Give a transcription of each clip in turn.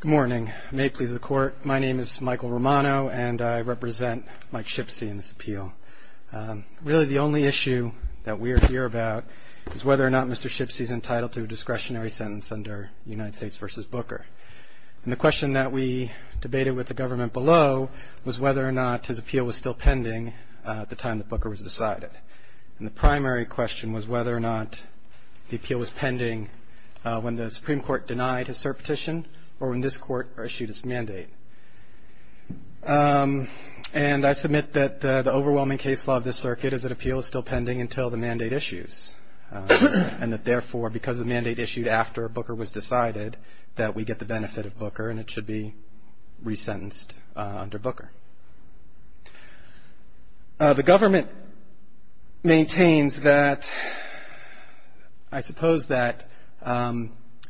Good morning. May it please the Court, my name is Michael Romano and I represent Mike Shipsey in this appeal. Really the only issue that we are here about is whether or not Mr. Shipsey is entitled to a discretionary sentence under United States v. Booker. And the question that we debated with the government below was whether or not his appeal was still pending at the time that Booker was decided. And the primary question was whether or not the appeal was pending when the Supreme Court denied his cert petition or when this Court issued its mandate. And I submit that the overwhelming case law of this circuit is that appeal is still pending until the mandate issues. And that therefore, because the mandate issued after Booker was decided, that we get the benefit of Booker and it should be resentenced under Booker. The government maintains that, I suppose that,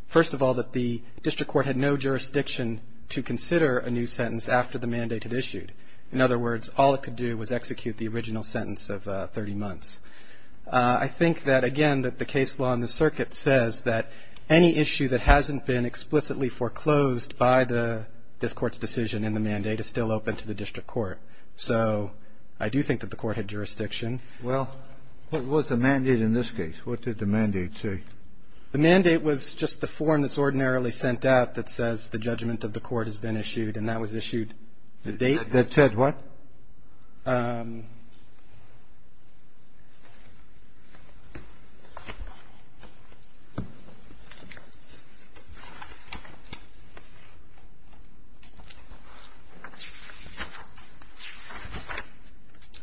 first of all, that the district court had no jurisdiction to consider a new sentence after the mandate had issued. In other words, all it could do was execute the original sentence of 30 months. I think that again that the case law in the circuit says that any issue that hasn't been explicitly foreclosed by this Court's decision in the mandate is still open to the district court. So I do think that the Court had jurisdiction. Well, what was the mandate in this case? What did the mandate say? The mandate was just the form that's ordinarily sent out that says the judgment of the Court has been issued, and that was issued the date. That said what?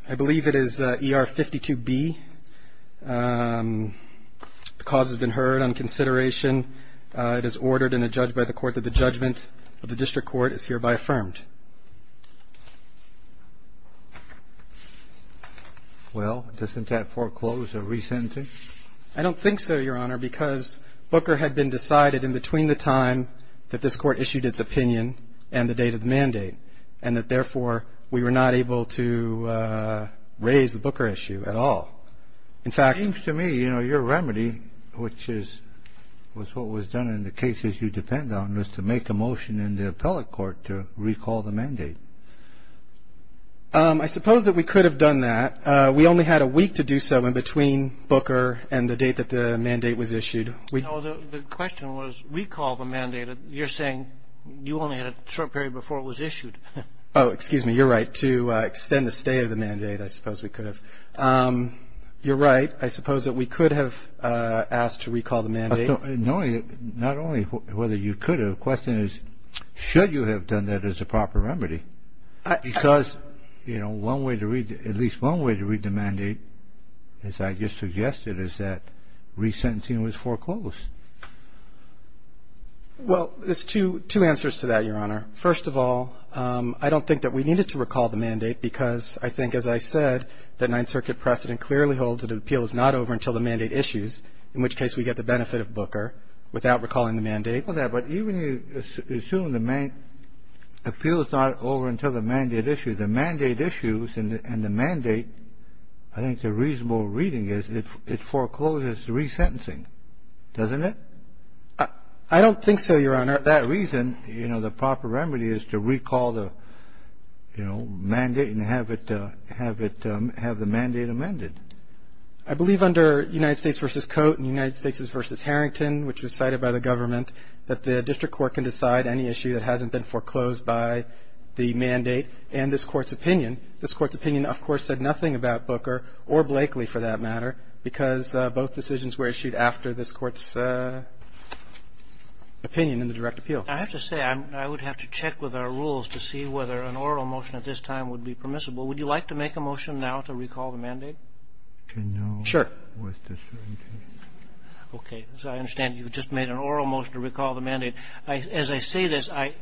I believe it is ER-52B. The cause has been heard on consideration. It is ordered in a Well, doesn't that foreclose a resentencing? I don't think so, Your Honor, because Booker had been decided in between the time that this Court issued its opinion and the date of the mandate, and that therefore we were not able to raise the Booker issue at all. In fact It seems to me, you know, your remedy, which is what was done in the cases you depend on, was to make a motion in the appellate court to recall the mandate. I suppose that we could have done that. We only had a week to do so in between Booker and the date that the mandate was issued. No, the question was recall the mandate. You're saying you only had a short period before it was issued. Oh, excuse me. You're right. To extend the stay of the mandate, I suppose we could have. You're right. I suppose that we could have asked to recall the mandate. Not only whether you could have, the question is, should you have done that as a proper remedy? Because, you know, one way to read, at least one way to read the mandate, as I just suggested, is that resentencing was foreclosed. Well, there's two answers to that, Your Honor. First of all, I don't think that we needed to recall the mandate because I think, as I said, that Ninth Circuit precedent clearly holds that an appeal is not over until the mandate issues, in which case we get the benefit of Booker without recalling the mandate. But even if you assume the appeal is not over until the mandate issues, the mandate issues and the mandate, I think the reasonable reading is it forecloses resentencing, doesn't it? I don't think so, Your Honor. That reason, you know, the proper remedy is to recall the, you know, mandate and have the mandate amended. I believe under United States v. Cote and United States v. Harrington, which was cited by the government, that the district court can decide any issue that hasn't been foreclosed by the mandate and this Court's opinion. This Court's opinion, of course, said nothing about Booker or Blakely, for that matter, because both decisions were issued after this Court's opinion in the direct appeal. I have to say, I would have to check with our rules to see whether an oral motion at this time would be permissible. Would you like to make a motion now to recall the mandate? Sure. Okay. As I understand, you've just made an oral motion to recall the mandate. As I say this, I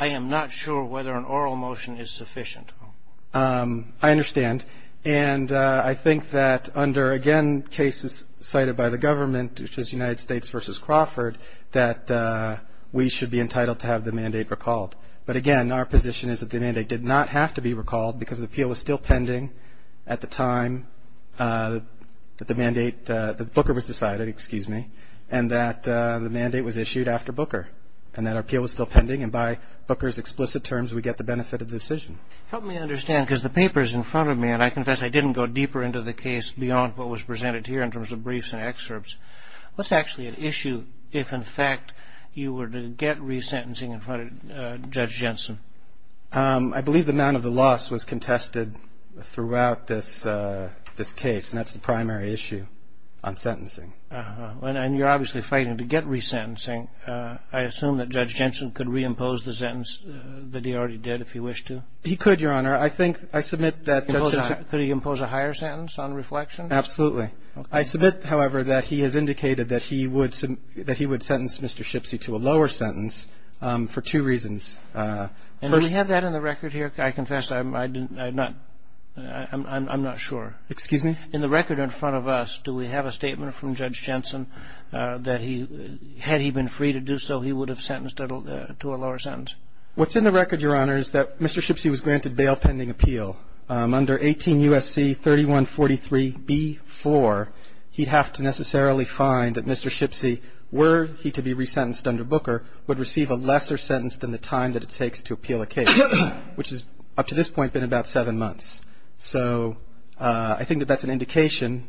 am not sure whether an oral motion is sufficient. I understand. And I think that under, again, cases cited by the government, which is United States v. Crawford, that we should be entitled to have the mandate recalled. But again, our position is that the mandate did not have to be recalled, because the appeal was still pending at the time that the mandate, that Booker was decided, excuse me, and that the mandate was issued after Booker, and that appeal was still pending. And by Booker's explicit terms, we get the benefit of the decision. Help me understand, because the paper is in front of me, and I confess I didn't go deeper into the case beyond what was presented here in terms of briefs and excerpts. What's actually at issue if, in fact, you were to get resentencing in front of Judge Jensen? I believe the amount of the loss was contested throughout this case, and that's the primary issue on sentencing. And you're obviously fighting to get resentencing. I assume that Judge Jensen could reimpose the sentence that he already did, if he wished to? He could, Your Honor. I think, I submit that Judge Jensen Could he impose a higher sentence on reflection? Absolutely. I submit, however, that he has indicated that he would sentence Mr. Shipsy to a lower sentence for two reasons. And do we have that in the record here? I confess I'm not sure. Excuse me? In the record in front of us, do we have a statement from Judge Jensen that he, had he been free to do so, he would have sentenced to a lower sentence? What's in the record, Your Honor, is that Mr. Shipsy was granted bail pending appeal under 18 U.S.C. 3143b4. He'd have to necessarily find that Mr. Shipsy, were he to be resentenced under Booker, would receive a lesser sentence than the time that it takes to appeal a case, which has up to this point been about seven months. So I think that that's an indication,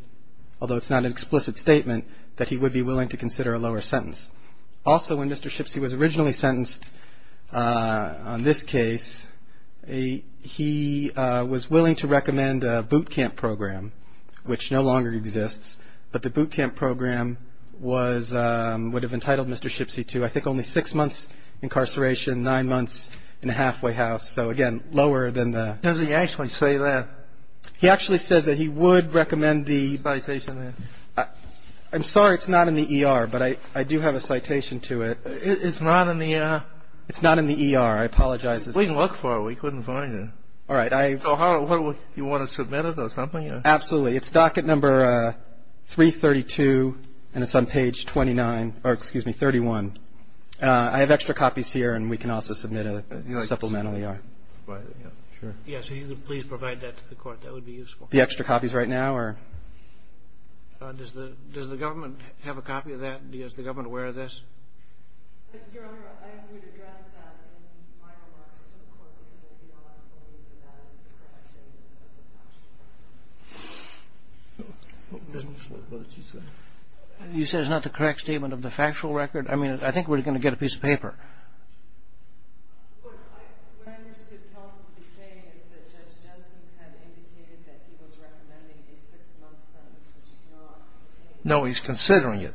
although it's not an explicit statement, that he would be willing to consider a lower sentence. Also, when Mr. Shipsy was originally sentenced on this case, he was willing to recommend a boot camp program, which no longer exists, but the boot camp program was, would have entitled Mr. Shipsy to, I think, only six months incarceration, nine months in a halfway house. So, again, lower than the… Doesn't he actually say that? He actually says that he would recommend the… I'm sorry, it's not in the ER. But I do have a citation to it. It's not in the… It's not in the ER. I apologize. We can look for it. We couldn't find it. All right, I… So what, do you want to submit it or something? Absolutely. It's docket number 332, and it's on page 29, or excuse me, 31. I have extra copies here, and we can also submit a supplemental ER. Right, yeah. Sure. Yeah, so you could please provide that to the court. That would be useful. The extra copies right now or… Does the government have a copy of that? Is the government aware of this? Your Honor, I would address that in my remarks to the court, because I do not believe that that is the correct statement of the factual record. What did you say? You said it's not the correct statement of the factual record? I mean, I think we're going to get a piece of paper. What I understood counsel to be saying is that Judge Jensen had indicated that he was recommending a six-month sentence, which is not a six-month sentence. He's not out of a eight-month sentence. That's not a six-month sentence? No, he's considering it.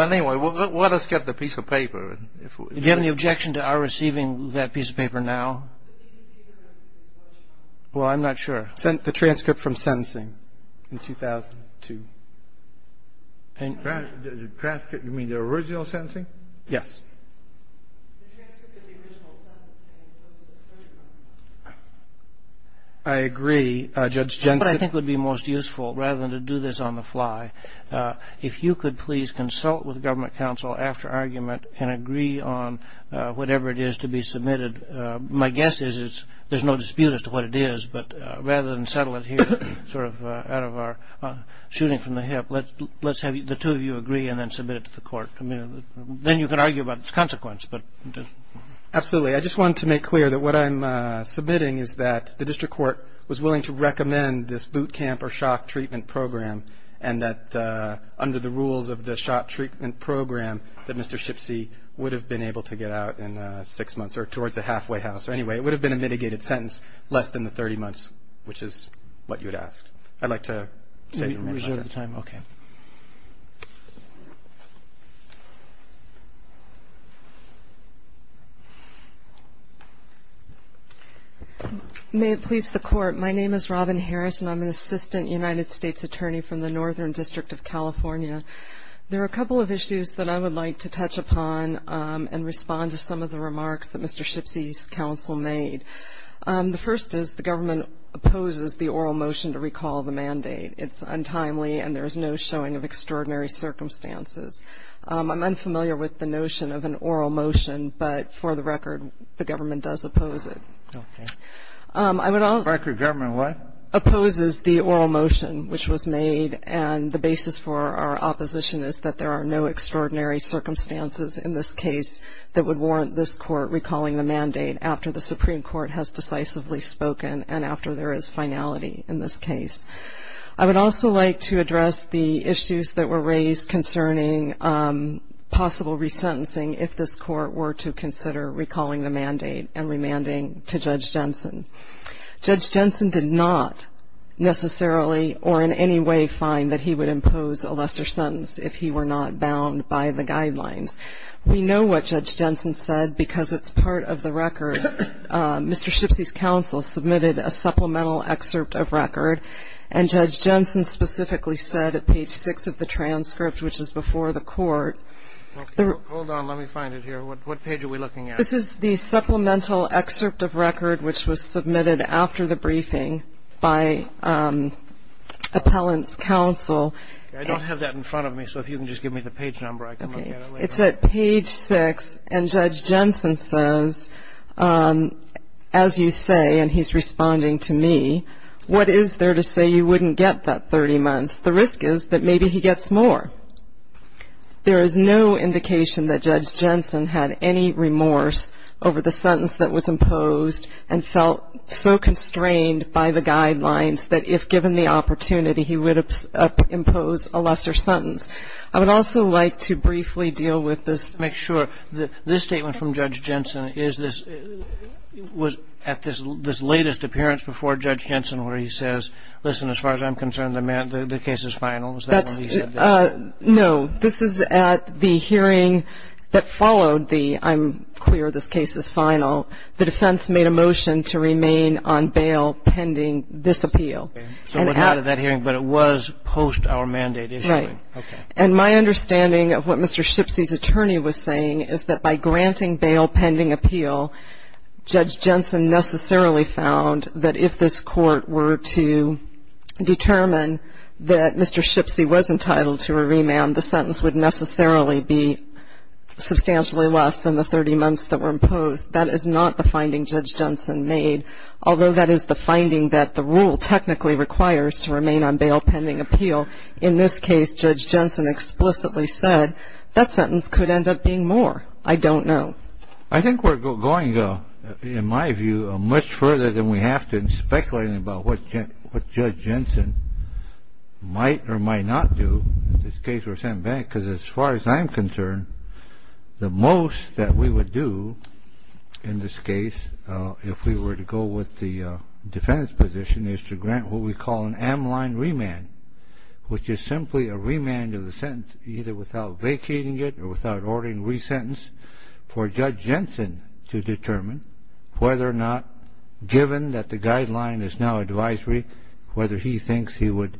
Anyway, let us get the piece of paper. You've given the objection to our receiving that piece of paper now? Well, I'm not sure. The transcript from sentencing in 2002. Do you mean the original sentencing? Yes. The transcript of the original sentence, and it includes a thirty-month sentence. I agree. Judge Jensen… I think it would be most useful, rather than to do this on the fly, if you could please consult with government counsel after argument and agree on whatever it is to be submitted. My guess is there's no dispute as to what it is, but rather than settle it here, sort of out of our shooting from the hip, let's have the two of you agree and then submit it to the court. Then you can argue about its consequence. Absolutely. I just wanted to make clear that what I'm submitting is that the district court was in favor of a 30-month sentence, and that under the rules of the SHOP treatment program, that Mr. Shipsey would have been able to get out in six months, or towards a halfway house. So anyway, it would have been a mitigated sentence less than the 30 months, which is what you'd ask. I'd like to say… Reserve the time. Okay. May it please the Court. My name is Robin Harris, and I'm an assistant United States attorney from the Northern District of California. There are a couple of issues that I would like to touch upon and respond to some of the remarks that Mr. Shipsey's counsel made. The first is the government opposes the oral motion to recall the mandate. It's untimely, and there is no showing of extraordinary circumstances. I'm unfamiliar with the notion of an oral motion, but for the record, the government does oppose it. Okay. I would also… The record of government, what? Opposes the oral motion, which was made, and the basis for our opposition is that there are no extraordinary circumstances in this case that would warrant this Court recalling the mandate after the Supreme Court has decisively spoken and after there is finality in this case. I would also like to address the issues that were raised concerning possible resentencing if this Court were to consider recalling the mandate and remanding to Judge Jensen. Judge Jensen did not necessarily or in any way find that he would impose a lesser sentence if he were not bound by the guidelines. We know what Judge Jensen said because it's part of the record. Mr. Shipsey's counsel submitted a supplemental excerpt of record, and Judge Jensen specifically said at page 6 of the transcript, which is before the Court… Hold on. Let me find it here. What page are we looking at? This is the supplemental excerpt of record, which was submitted after the briefing by appellant's counsel… I don't have that in front of me, so if you can just give me the page number, I can look at it later. Okay. It's at page 6, and Judge Jensen says, as you say, and he's responding to me, what is there to say you wouldn't get that 30 months? The risk is that maybe he gets more. There is no indication that Judge Jensen had any remorse over the sentence that was imposed and felt so constrained by the guidelines that if given the opportunity, he would impose a lesser sentence. I would also like to briefly deal with this… Make sure. This statement from Judge Jensen is this… was at this latest appearance before Judge Jensen where he says, listen, as far as I'm concerned, the case is final. Is that what he said? No. This is at the hearing that followed the, I'm clear this case is final, the defense made a motion to remain on bail pending this appeal. So it was not at that hearing, but it was post-our-mandate issuing. Right. And my understanding of what Mr. Shipsey's attorney was saying is that by granting bail pending appeal, Judge Jensen necessarily found that if this court were to determine that Mr. Shipsey was entitled to a remand, the sentence would necessarily be substantially less than the 30 months that were imposed. That is not the finding Judge Jensen made, although that is the finding that the rule technically requires to remain on bail pending appeal. In this case, Judge Jensen explicitly said that sentence could end up being more. I don't know. I think we're going, in my view, much further than we have been speculating about what Judge Jensen might or might not do if this case were sent back, because as far as I'm concerned, the most that we would do in this case if we were to go with the defense position is to grant what we call an M-line remand, which is simply a remand of the sentence either without vacating it or without ordering re-sentence for Judge Jensen to determine whether or not, in this case, Judge Jensen would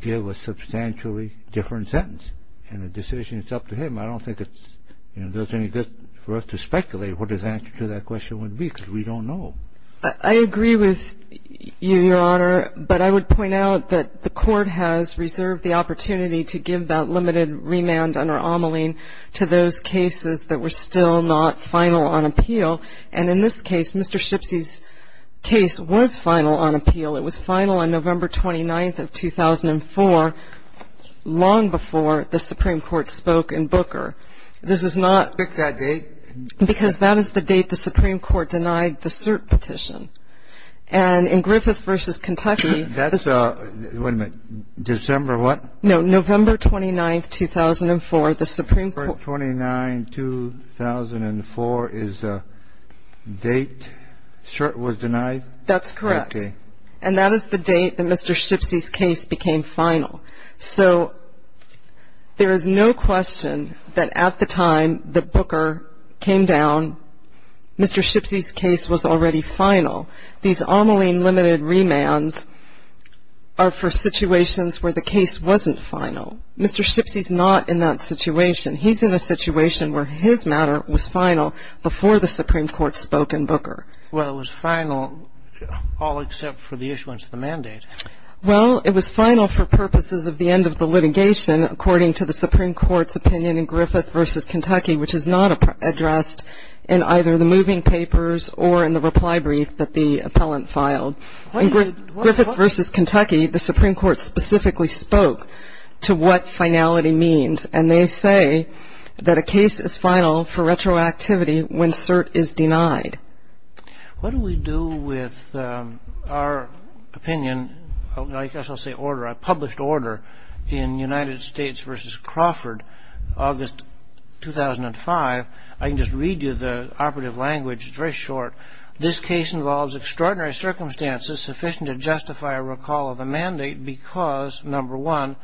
give a substantially different sentence, and the decision is up to him. I don't think it's, you know, there's any good for us to speculate what his answer to that question would be, because we don't know. I agree with you, Your Honor, but I would point out that the Court has reserved the opportunity to give that limited remand under Omelene to those cases that were still not final on appeal. And in this case, Mr. Shipsey's case was final on appeal. It was final on November 29th of 2004, long before the Supreme Court spoke in Booker. This is not... Pick that date. Because that is the date the Supreme Court denied the cert petition. And in Griffith v. Kentucky... That's... wait a minute. December what? No, November 29th, 2004, the Supreme Court... November 29th, 2004 is the date cert was denied? That's correct. And that is the date that Mr. Shipsey's case became final. So there is no question that at the time that Booker came down, Mr. Shipsey's case was already final. These Omelene limited remands are for situations where the case wasn't final. Mr. Shipsey's not in that situation. He's in a situation where his matter was final before the Supreme Court spoke in Booker. Well, it was final all except for the issuance of the mandate. Well, it was final for purposes of the end of the litigation, according to the Supreme Court's opinion in Griffith v. Kentucky, which is not addressed in either the moving papers or in the reply brief that the appellant filed. In Griffith v. Kentucky, the Supreme Court specifically spoke to what finality means. And they say that a case is final for retroactivity when cert is denied. What do we do with our opinion? I guess I'll say order. I published order in United States v. Crawford, August 2005. I can just read you the operative language. It's very short. This case involves extraordinary circumstances sufficient to justify a recall of a mandate because, number one,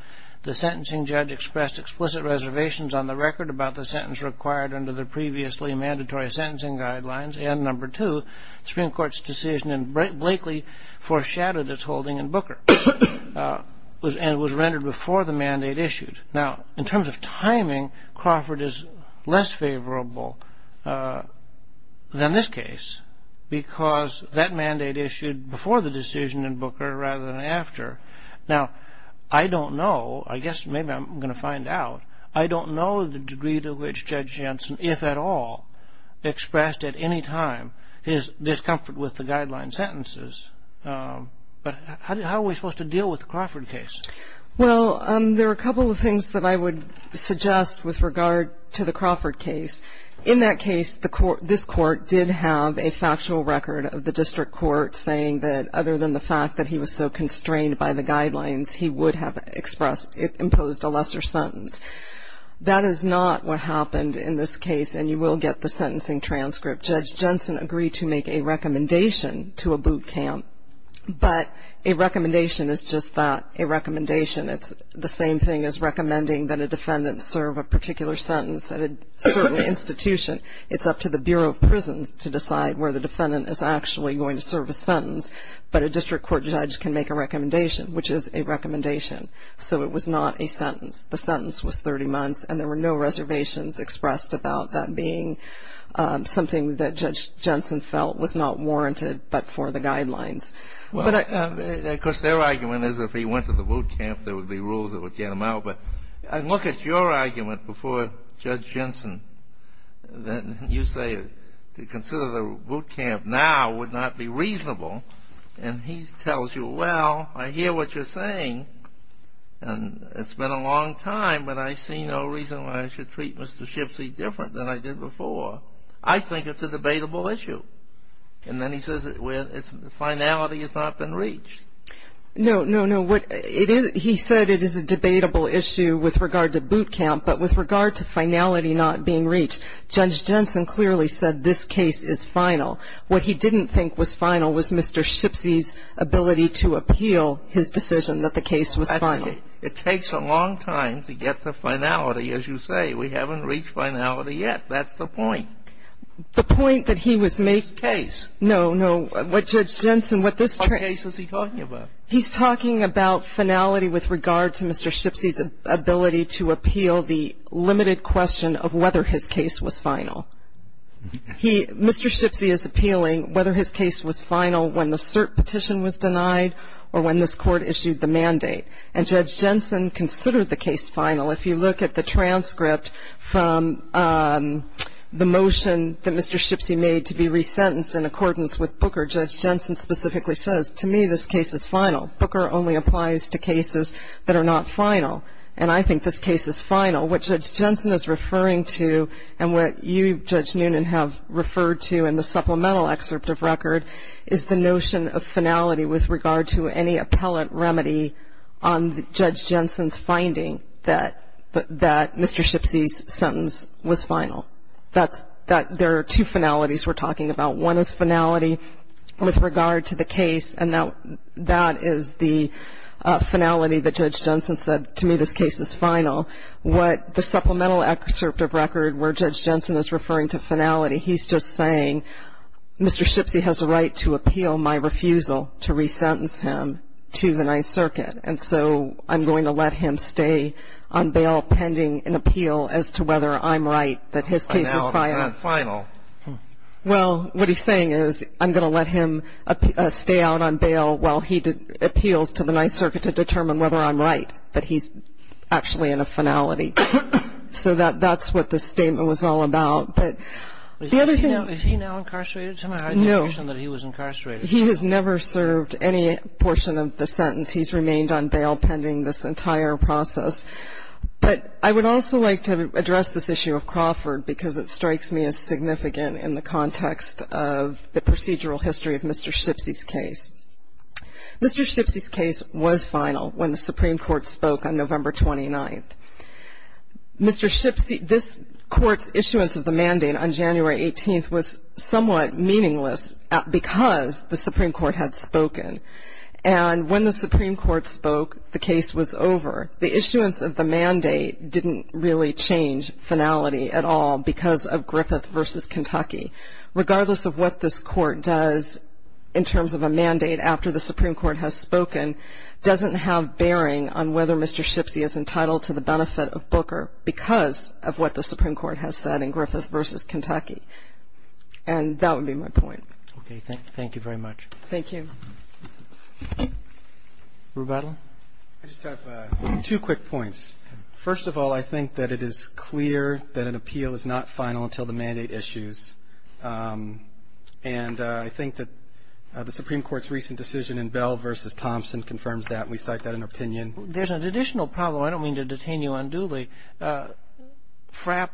the sentencing judge expressed explicit reservations on the record about the sentence required under the previously mandatory sentencing guidelines, and number two, the Supreme Court's decision in Blakely foreshadowed its holding in Booker and was rendered before the mandate issued. Now, in terms of timing, Crawford is less favorable than this case because that mandate issued before the decision in Booker rather than after. Now, I don't know. I guess maybe I'm going to find out. I don't know the degree to which Judge Jensen, if at all, expressed at any time his discomfort with the guideline sentences. But how are we supposed to deal with the Crawford case? Well, there are a couple of things that I would suggest with regard to the Crawford case. In that case, this court did have a factual record of the district court saying that other than the fact that he was so constrained by the guidelines, he would have imposed a lesser sentence. That is not what happened in this case, and you will get the sentencing transcript. Judge Jensen agreed to make a recommendation to a boot camp, but a recommendation is just that, a recommendation. It's the same thing as recommending that a defendant serve a particular sentence at a certain institution. It's up to the Bureau of Prisons to decide where the defendant is actually going to serve a sentence, but a district court judge can make a recommendation, which is a recommendation. So it was not a sentence. The sentence was 30 months, and there were no reservations expressed about that being something that Judge Jensen felt was not warranted but for the guidelines. But I — Well, of course, their argument is if he went to the boot camp, there would be rules that would get him out. But look at your argument before Judge Jensen that you say to consider the boot camp now would not be reasonable. And he tells you, well, I hear what you're saying, and it's been a long time, but I see no reason why I should treat Mr. Shipsy different than I did before. I think it's a debatable issue. And then he says, well, its finality has not been reached. No, no, no. What it is — he said it is a debatable issue with regard to boot camp. But with regard to finality not being reached, Judge Jensen clearly said this case is final. What he didn't think was final was Mr. Shipsy's ability to appeal his decision that the case was final. It takes a long time to get to finality, as you say. We haven't reached finality yet. That's the point. The point that he was making — Case. No, no. What Judge Jensen — What case is he talking about? He's talking about finality with regard to Mr. Shipsy's ability to appeal the limited question of whether his case was final. He — Mr. Shipsy is appealing whether his case was final when the cert petition was denied or when this Court issued the mandate. And Judge Jensen considered the case final. If you look at the transcript from the motion that Mr. Shipsy made to be resentenced in accordance with Booker, Judge Jensen specifically says, to me this case is final. Booker only applies to cases that are not final. And I think this case is final. What Judge Jensen is referring to and what you, Judge Noonan, have referred to in the supplemental excerpt of record is the notion of finality with regard to any appellate remedy on Judge Jensen's finding that — that Mr. Shipsy's sentence was final. That's — that there are two finalities we're talking about. One is finality with regard to the case, and that is the finality that Judge Jensen said, to me this case is final. What the supplemental excerpt of record where Judge Jensen is referring to finality, he's just saying Mr. Shipsy has a right to appeal my refusal to resentence him to the Ninth Circuit, and so I'm going to let him stay on bail pending an appeal as to whether I'm right that his case is final. Well, what he's saying is I'm going to let him stay out on bail while he appeals to the Ninth Circuit to determine whether I'm right that he's actually in a finality. So that's what this statement was all about. But the other thing — Is he now incarcerated? No. I had no notion that he was incarcerated. He has never served any portion of the sentence. He's remained on bail pending this entire process. But I would also like to address this issue of Crawford because it strikes me as significant in the context of the procedural history of Mr. Shipsy's case. Mr. Shipsy's case was final when the Supreme Court spoke on November 29th. Mr. Shipsy — this Court's issuance of the mandate on January 18th was somewhat meaningless because the Supreme Court had spoken. And when the Supreme Court spoke, the case was over. The issuance of the mandate didn't really change finality at all because of Griffith v. Kentucky. Regardless of what this Court does in terms of a mandate after the Supreme Court has spoken doesn't have bearing on whether Mr. Shipsy is entitled to the benefit of Booker because of what the Supreme Court has said in Griffith v. Kentucky. And that would be my point. Okay. Thank you very much. Thank you. Rebuttal? I just have two quick points. First of all, I think that it is clear that an appeal is not final until the mandate issues. And I think that the Supreme Court's recent decision in Bell v. Thompson confirms that. We cite that in our opinion. There's an additional problem. I don't mean to detain you unduly. But the Supreme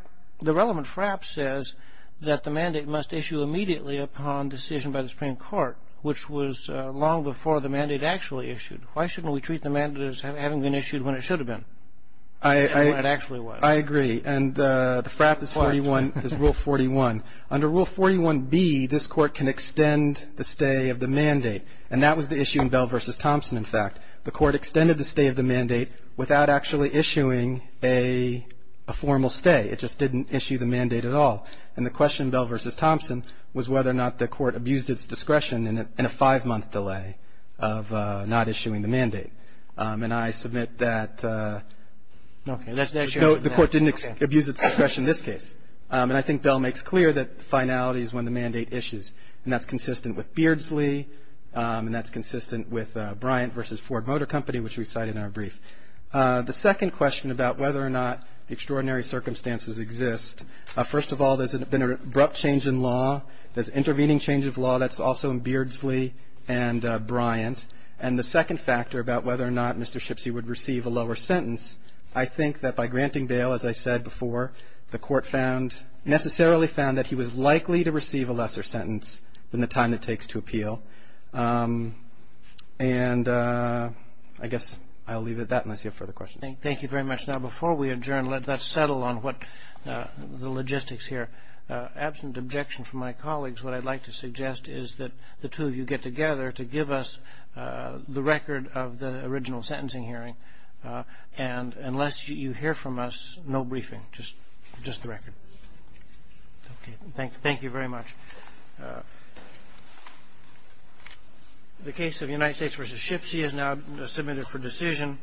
Court, which was long before the mandate actually issued, why shouldn't we treat the mandate as having been issued when it should have been, when it actually was? I agree. And the frap is Rule 41. Under Rule 41B, this Court can extend the stay of the mandate. And that was the issue in Bell v. Thompson, in fact. The Court extended the stay of the mandate without actually issuing a formal stay. It just didn't issue the mandate at all. And the question in Bell v. Thompson was whether or not the Court abused its discretion in a five-month delay of not issuing the mandate. And I submit that the Court didn't abuse its discretion in this case. And I think Bell makes clear that the finality is when the mandate issues, and that's consistent with Beardsley, and that's consistent with Bryant v. Ford Motor Company, which we cite in our brief. The second question about whether or not the extraordinary circumstances exist, first of all, there's been an abrupt change in law. There's intervening change of law that's also in Beardsley and Bryant. And the second factor about whether or not Mr. Shipsey would receive a lower sentence, I think that by granting bail, as I said before, the Court found, necessarily found that he was likely to receive a lesser sentence than the time it takes to appeal. And I guess I'll leave it at that unless you have further questions. Thank you very much. Now, before we adjourn, let's settle on what the logistics here. Absent objection from my colleagues, what I'd like to suggest is that the two of you get together to give us the record of the original sentencing hearing. And unless you hear from us, no briefing, just the record. Thank you very much. The case of United States v. Shipsey is now submitted for decision.